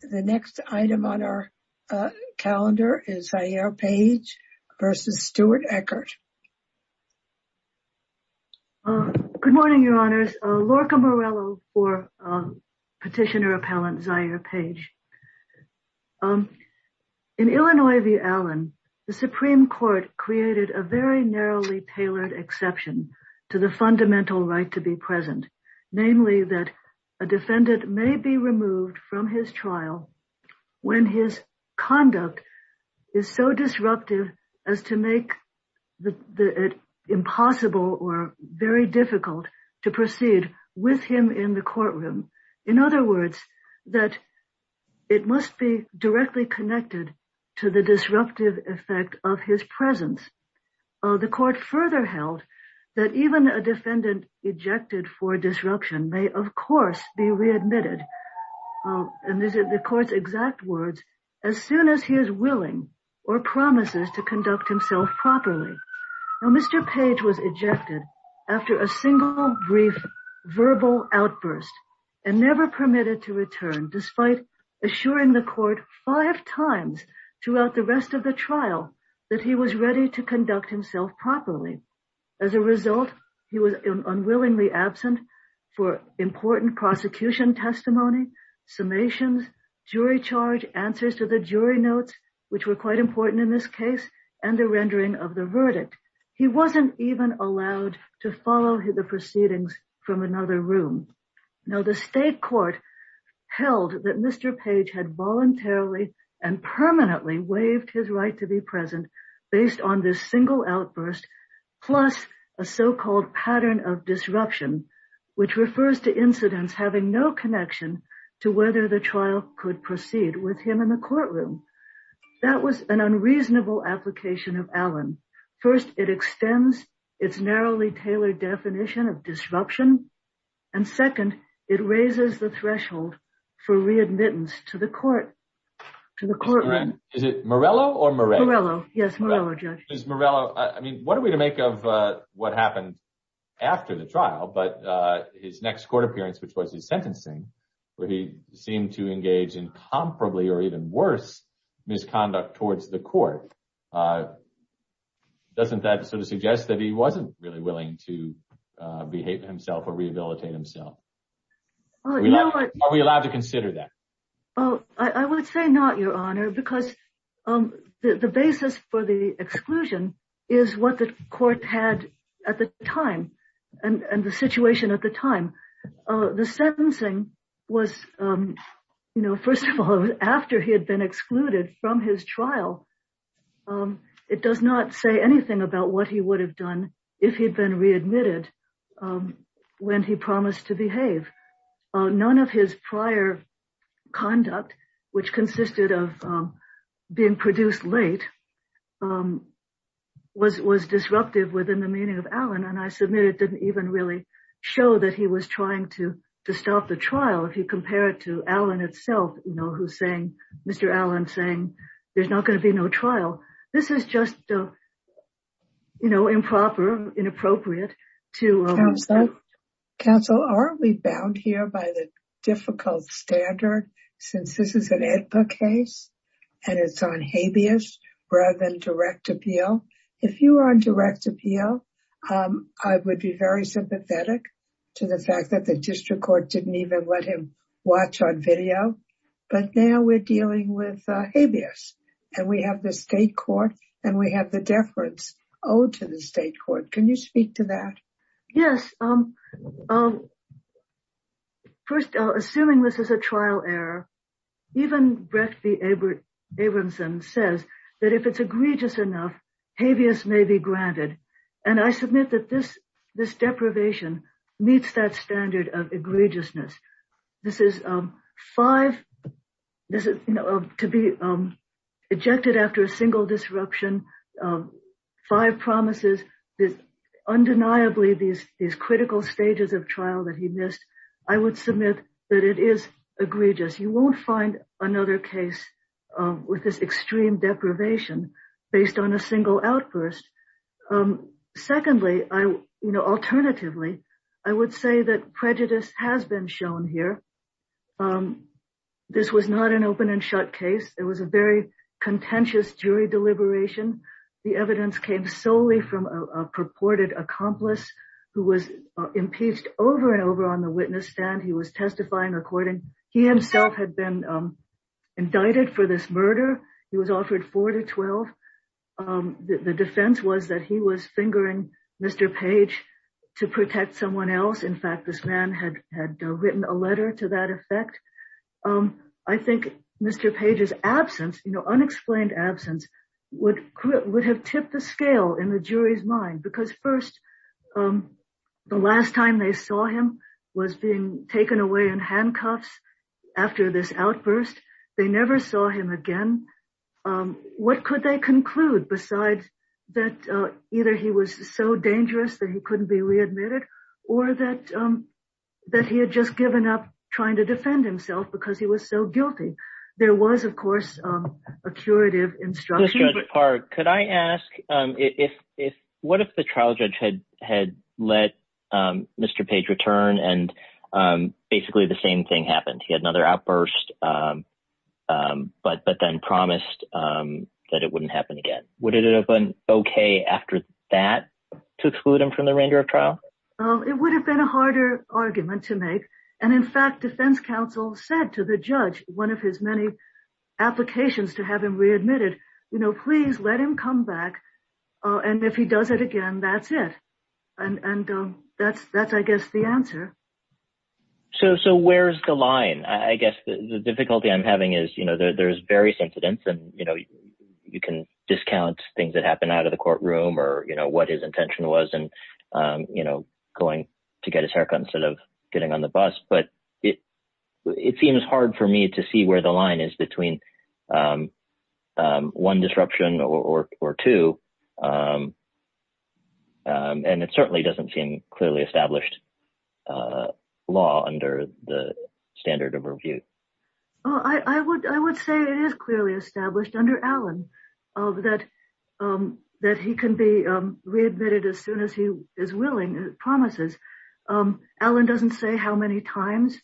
The next item on our calendar is Zaire Page versus Stuart Eckert. Good morning, Your Honors. Lorca Morello for Petitioner Appellant Zaire Page. In Illinois v. Allen, the Supreme Court created a very narrowly tailored exception to the fundamental right to be present, namely that a defendant may be removed from his trial when his conduct is so disruptive as to make it impossible or very difficult to proceed with him in the courtroom. In other words, that it must be directly connected to the disruptive effect of his presence. The court further held that even a defendant ejected for disruption may, of course, be readmitted, and these are the court's exact words, as soon as he is willing or promises to conduct himself properly. Mr. Page was ejected after a single brief verbal outburst and never permitted to return, despite assuring the court five times throughout the rest of the trial that he was ready to conduct himself properly. As a result, he was unwillingly absent for important prosecution testimony, summations, jury charge, answers to the jury notes, which were quite important in this case, and the rendering of the verdict. He wasn't even allowed to follow the proceedings from another room. Now, the state court held that Mr. Page had voluntarily and permanently waived his right to be present based on this single outburst, plus a so-called pattern of disruption, which refers to incidents having no connection to whether the trial could proceed with him in the courtroom. That was an unreasonable application of Allen. First, it extends its narrowly tailored definition of disruption, and second, it raises the threshold for readmittance to the court. Is it Morello or Moret? Morello. Yes, Morello, Judge. Ms. Morello, I mean, what are we to make of what happened after the trial, but his next court appearance, which was his sentencing, where he seemed to engage in comparably or even worse misconduct towards the court. Doesn't that sort of suggest that he wasn't really willing to behave himself or rehabilitate himself? Are we allowed to consider that? I would say not, Your Honor, because the basis for the exclusion is what the court had at the time and the situation at the time. The sentencing was, you know, first of all, after he had been excluded from his trial, it does not say anything about what he would have done if he had been readmitted when he promised to behave. None of his prior conduct, which consisted of being produced late, was disruptive within the meaning of Allen, and I submit it didn't even really show that he was trying to stop the trial. If you compare it to Allen itself, you know, who's saying Mr. Allen saying there's not going to be no trial. This is just, you know, improper, inappropriate to counsel. Are we bound here by the difficult standard, since this is an AEDPA case and it's on habeas rather than direct appeal? If you are on direct appeal, I would be very sympathetic to the fact that the district court didn't even let him watch on video. But now we're dealing with habeas, and we have the state court and we have the deference owed to the state court. Can you speak to that? Yes. First, assuming this is a trial error, even Brett B. Abramson says that if it's egregious enough, habeas may be granted. And I submit that this deprivation meets that standard of egregiousness. This is five, to be ejected after a single disruption, five promises, undeniably these critical stages of trial that he missed, I would submit that it is egregious. You won't find another case with this extreme deprivation based on a single outburst. Secondly, you know, alternatively, I would say that prejudice has been shown here. This was not an open and shut case. It was a very contentious jury deliberation. The evidence came solely from a purported accomplice who was impeached over and over on the witness stand. He himself had been indicted for this murder. He was offered four to 12. The defense was that he was fingering Mr. Page to protect someone else. In fact, this man had written a letter to that effect. I think Mr. Page's absence, you know, unexplained absence would have tipped the scale in the jury's mind because first, the last time they saw him was being taken away in handcuffs after this outburst. They never saw him again. What could they conclude besides that either he was so dangerous that he couldn't be readmitted or that he had just given up trying to defend himself because he was so guilty? There was, of course, a curative instruction. Could I ask if what if the trial judge had had let Mr. Page return and basically the same thing happened? He had another outburst, but but then promised that it wouldn't happen again. Would it have been OK after that to exclude him from the remainder of trial? It would have been a harder argument to make. And in fact, defense counsel said to the judge, one of his many applications to have him readmitted, you know, please let him come back. And if he does it again, that's it. And that's that's I guess the answer. So so where's the line? I guess the difficulty I'm having is, you know, there's various incidents and, you know, you can discount things that happen out of the courtroom or, you know, what his intention was and, you know, going to get his haircut instead of getting on the bus. But it seems hard for me to see where the line is between one disruption or two. And it certainly doesn't seem clearly established law under the standard of review. I would I would say it is clearly established under Allen that that he can be readmitted as soon as he is willing promises. Allen doesn't say how many times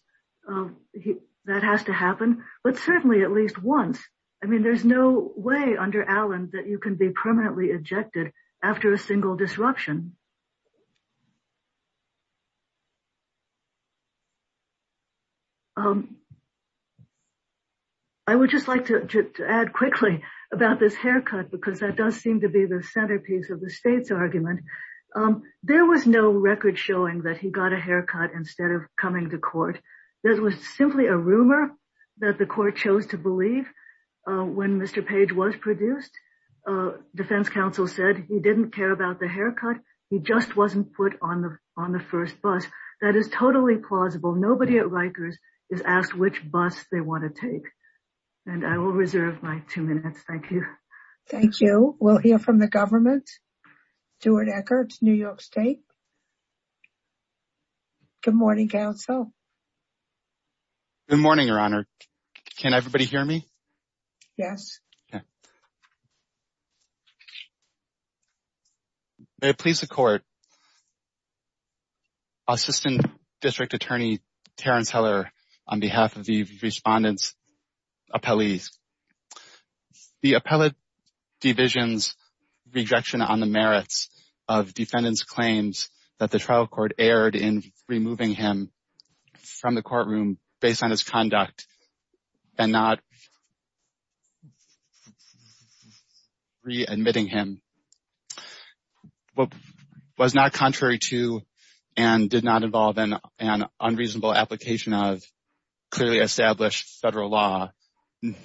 that has to happen, but certainly at least once. I mean, there's no way under Allen that you can be permanently ejected after a single disruption. I would just like to add quickly about this haircut, because that does seem to be the centerpiece of the state's argument. There was no record showing that he got a haircut instead of coming to court. There was simply a rumor that the court chose to believe when Mr. Page was produced. Defense counsel said he didn't care about the haircut. He just wasn't put on the on the first bus. That is totally plausible. Nobody at Rikers is asked which bus they want to take. And I will reserve my two minutes. Thank you. Thank you. We'll hear from the government. Stuart Eckert, New York State. Good morning, counsel. Good morning, Your Honor. Can everybody hear me? Yes. May it please the court. Assistant District Attorney Terrence Heller, on behalf of the respondents, appellees. The appellate division's rejection on the merits of defendants' claims that the trial court erred in removing him from the courtroom based on his conduct and not re-admitting him was not contrary to and did not involve an unreasonable application of clearly established federal law.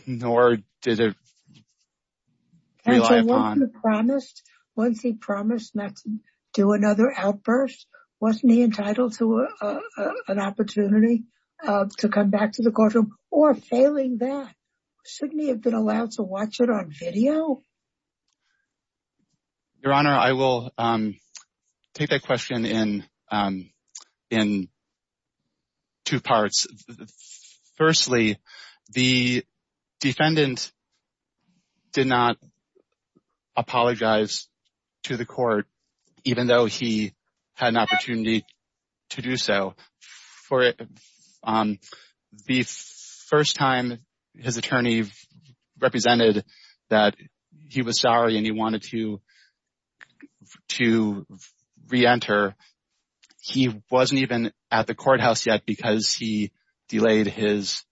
Nor did it rely upon... Counsel, once he promised not to do another outburst, wasn't he entitled to an opportunity to come back to the courtroom? Or failing that, shouldn't he have been allowed to watch it on video? Your Honor, I will take that question in two parts. Firstly, the defendant did not apologize to the court, even though he had an opportunity to do so. The first time his attorney represented that he was sorry and he wanted to re-enter, he wasn't even at the courthouse yet because he delayed his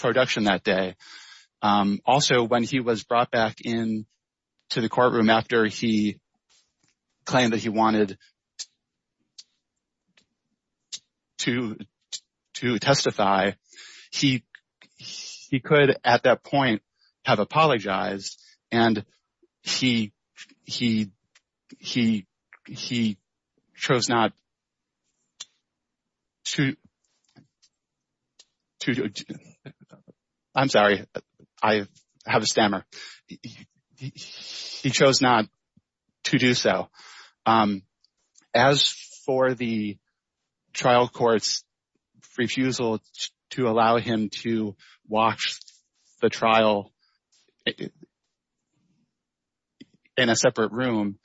production that day. Also, when he was brought back into the courtroom after he claimed that he wanted to testify, he could, at that point, have apologized and he chose not to... I'm sorry, I have a stammer. He chose not to do so. As for the trial court's refusal to allow him to watch the trial in a separate room,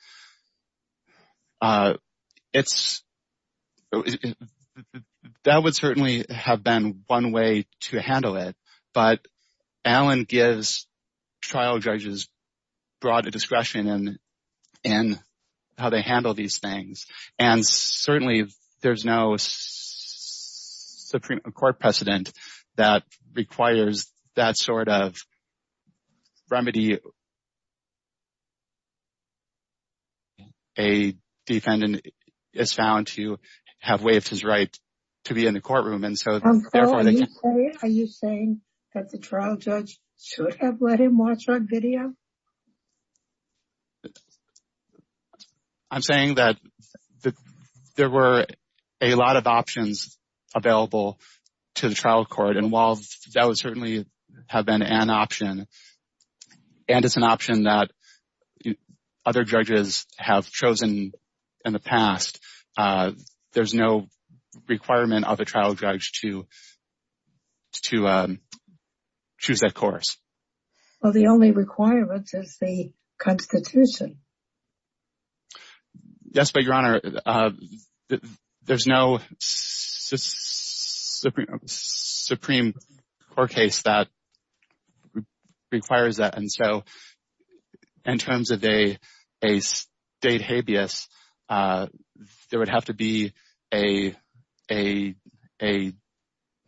that would certainly have been one way to handle it. But Allen gives trial judges broad discretion in how they handle these things. And certainly, there's no Supreme Court precedent that requires that sort of remedy. A defendant is found to have waived his right to be in the courtroom. Are you saying that the trial judge should have let him watch on video? I'm saying that there were a lot of options available to the trial court, and while that would certainly have been an option, and it's an option that other judges have chosen in the past, there's no requirement of a trial judge to choose that course. Well, the only requirement is the Constitution. Yes, but Your Honor, there's no Supreme Court case that requires that. In terms of a state habeas, there would have to be a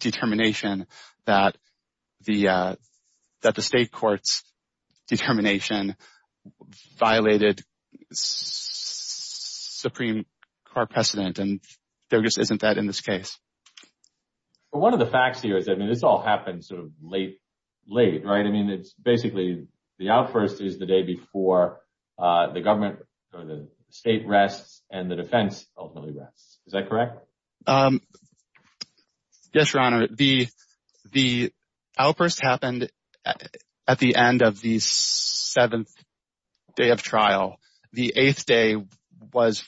determination that the state court's determination violated Supreme Court precedent, and there just isn't that in this case. One of the facts here is that this all happened sort of late, right? I mean, it's basically the outburst is the day before the government or the state rests and the defense ultimately rests. Is that correct? Yes, Your Honor. The outburst happened at the end of the seventh day of trial. The eighth day was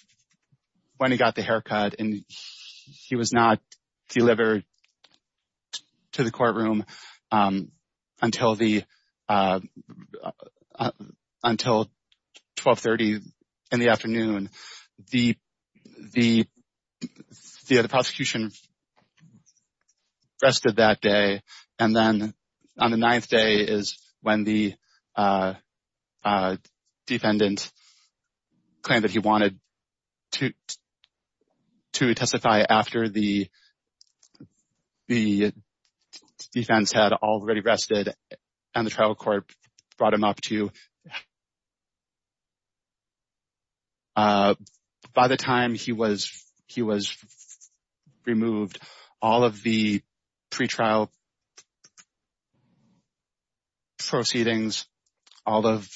when he got the haircut, and he was not delivered to the courtroom until 1230 in the afternoon. The prosecution rested that day, and then on the ninth day is when the defendant claimed that he wanted to testify after the defense had already rested, and the trial court brought him up to By the time he was removed, all of the pretrial proceedings, all of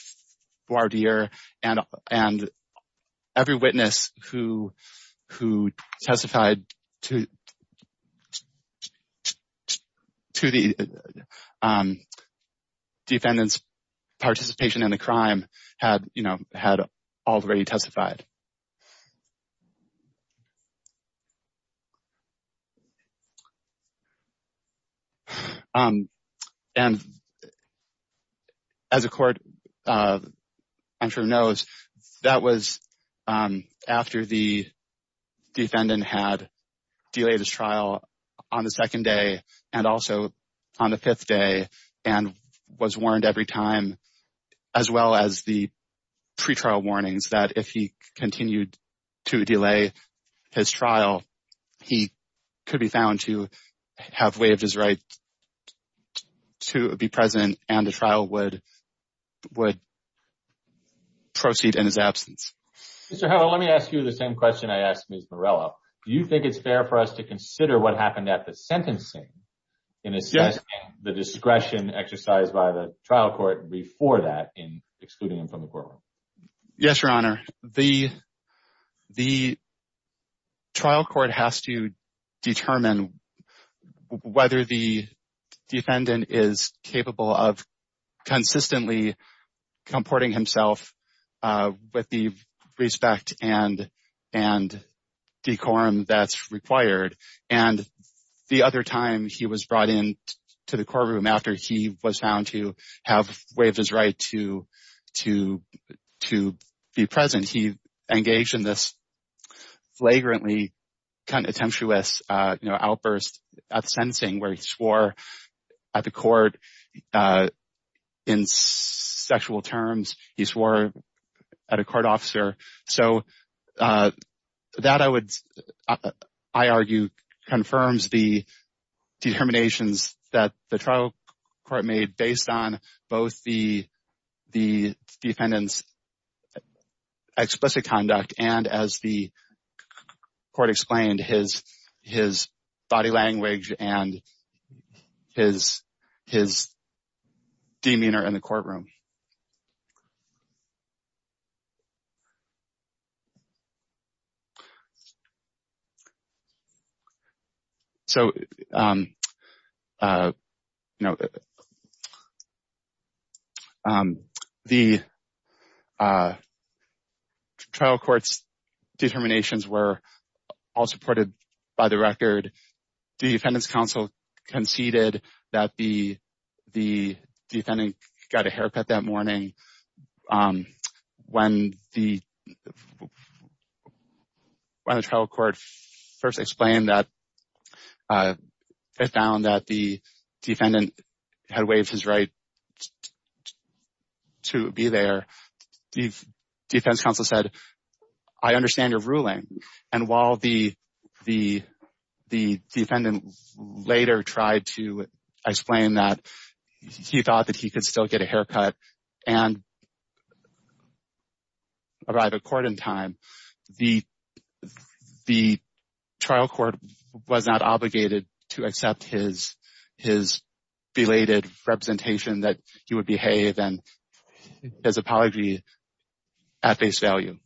voir dire, and every witness who testified to the defendant's participation in the crime, had already testified. And as the court knows, that was after the defendant had delayed his trial on the second day and also on the fifth day and was warned every time, as well as the pretrial warnings that if he continues to testify, he will be charged. If he continued to delay his trial, he could be found to have waived his right to be present and the trial would proceed in his absence. Mr. Howell, let me ask you the same question I asked Ms. Morello. Do you think it's fair for us to consider what happened at the sentencing in assessing the discretion exercised by the trial court before that in excluding him from the courtroom? Yes, Your Honor. The trial court has to determine whether the defendant is capable of consistently comporting himself with the respect and decorum that's required. And the other time he was brought into the courtroom after he was found to have waived his right to be present, he engaged in this flagrantly contemptuous outburst at the sentencing where he swore at the court in sexual terms. He swore at a court officer. So that, I argue, confirms the determinations that the trial court made based on both the defendant's explicit conduct and, as the court explained, his body language and his demeanor in the courtroom. So, you know, the trial court's determinations were all supported by the record. The defendant's counsel conceded that the defendant got a haircut that morning when the trial court first explained that they found that the defendant had waived his right to be there. The defense counsel said, I understand your ruling. And while the defendant later tried to explain that he thought that he could still get a haircut and arrive at court in time, the trial court was not obligated to accept his belated representation that he would behave and his apology at face value.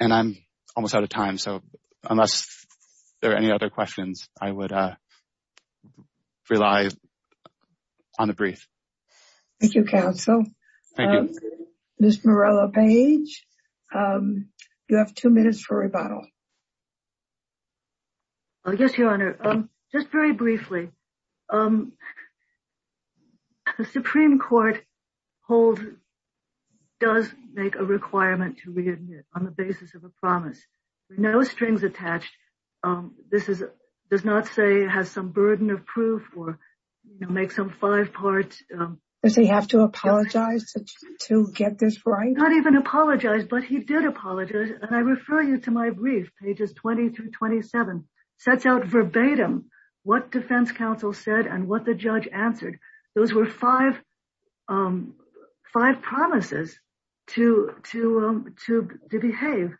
And I'm almost out of time, so unless there are any other questions, I would rely on the brief. Thank you, counsel. Thank you. Ms. Morella-Page, you have two minutes for rebuttal. Yes, Your Honor. Just very briefly, the Supreme Court does make a requirement to readmit on the basis of a promise. There are no strings attached. This does not say it has some burden of proof or make some five-part... Does he have to apologize to get this right? He did not even apologize, but he did apologize, and I refer you to my brief, pages 20 through 27. It sets out verbatim what defense counsel said and what the judge answered. Those were five promises to behave.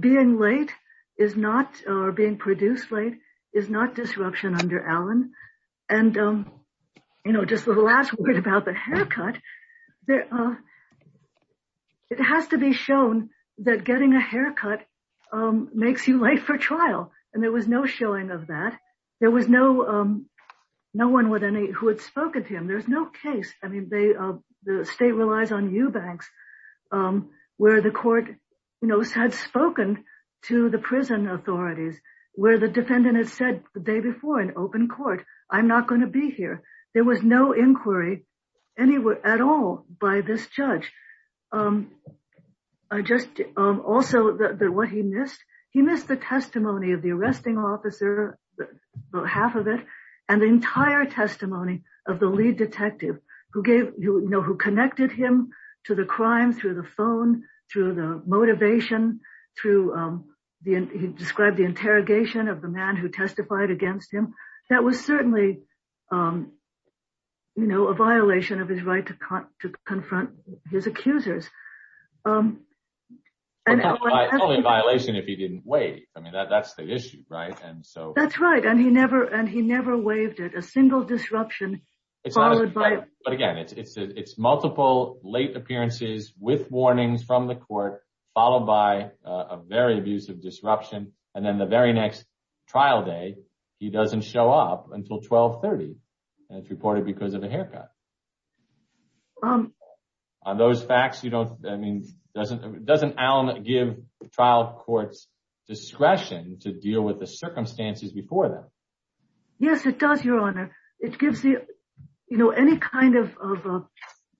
Being late is not, or being produced late, is not disruption under Allen. And just the last word about the haircut, it has to be shown that getting a haircut makes you late for trial, and there was no showing of that. There was no one who had spoken to him. There's no case. The state relies on Eubanks, where the court had spoken to the prison authorities, where the defendant had said the day before in open court, I'm not going to be here. There was no inquiry at all by this judge. Also, what he missed, he missed the testimony of the arresting officer, about half of it, and the entire testimony of the lead detective, who connected him to the crime through the phone, through the motivation, through, he described the interrogation of the man who testified against him. That was certainly a violation of his right to confront his accusers. Only a violation if he didn't waive. I mean, that's the issue, right? That's right. And he never waived it, a single disruption. But again, it's multiple late appearances with warnings from the court, followed by a very abusive disruption. And then the very next trial day, he doesn't show up until 1230. And it's reported because of a haircut. On those facts, I mean, doesn't Allen give trial courts discretion to deal with the circumstances before that? Yes, it does, Your Honor. It gives any kind of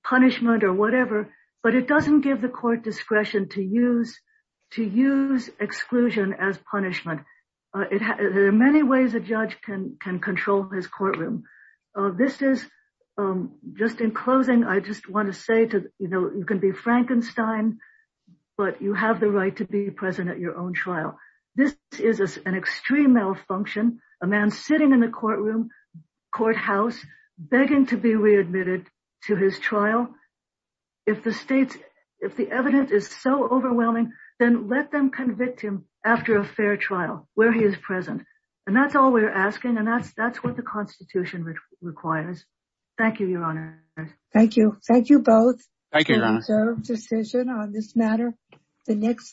punishment or whatever, but it doesn't give the court discretion to use exclusion as punishment. There are many ways a judge can control his courtroom. This is, just in closing, I just want to say, you know, you can be Frankenstein, but you have the right to be present at your own trial. This is an extreme malfunction. A man sitting in the courtroom, courthouse, begging to be readmitted to his trial. If the evidence is so overwhelming, then let them convict him after a fair trial where he is present. And that's all we're asking. And that's what the Constitution requires. Thank you, Your Honor. Thank you. Thank you both. Thank you, Your Honor. Served decision on this matter. The next case.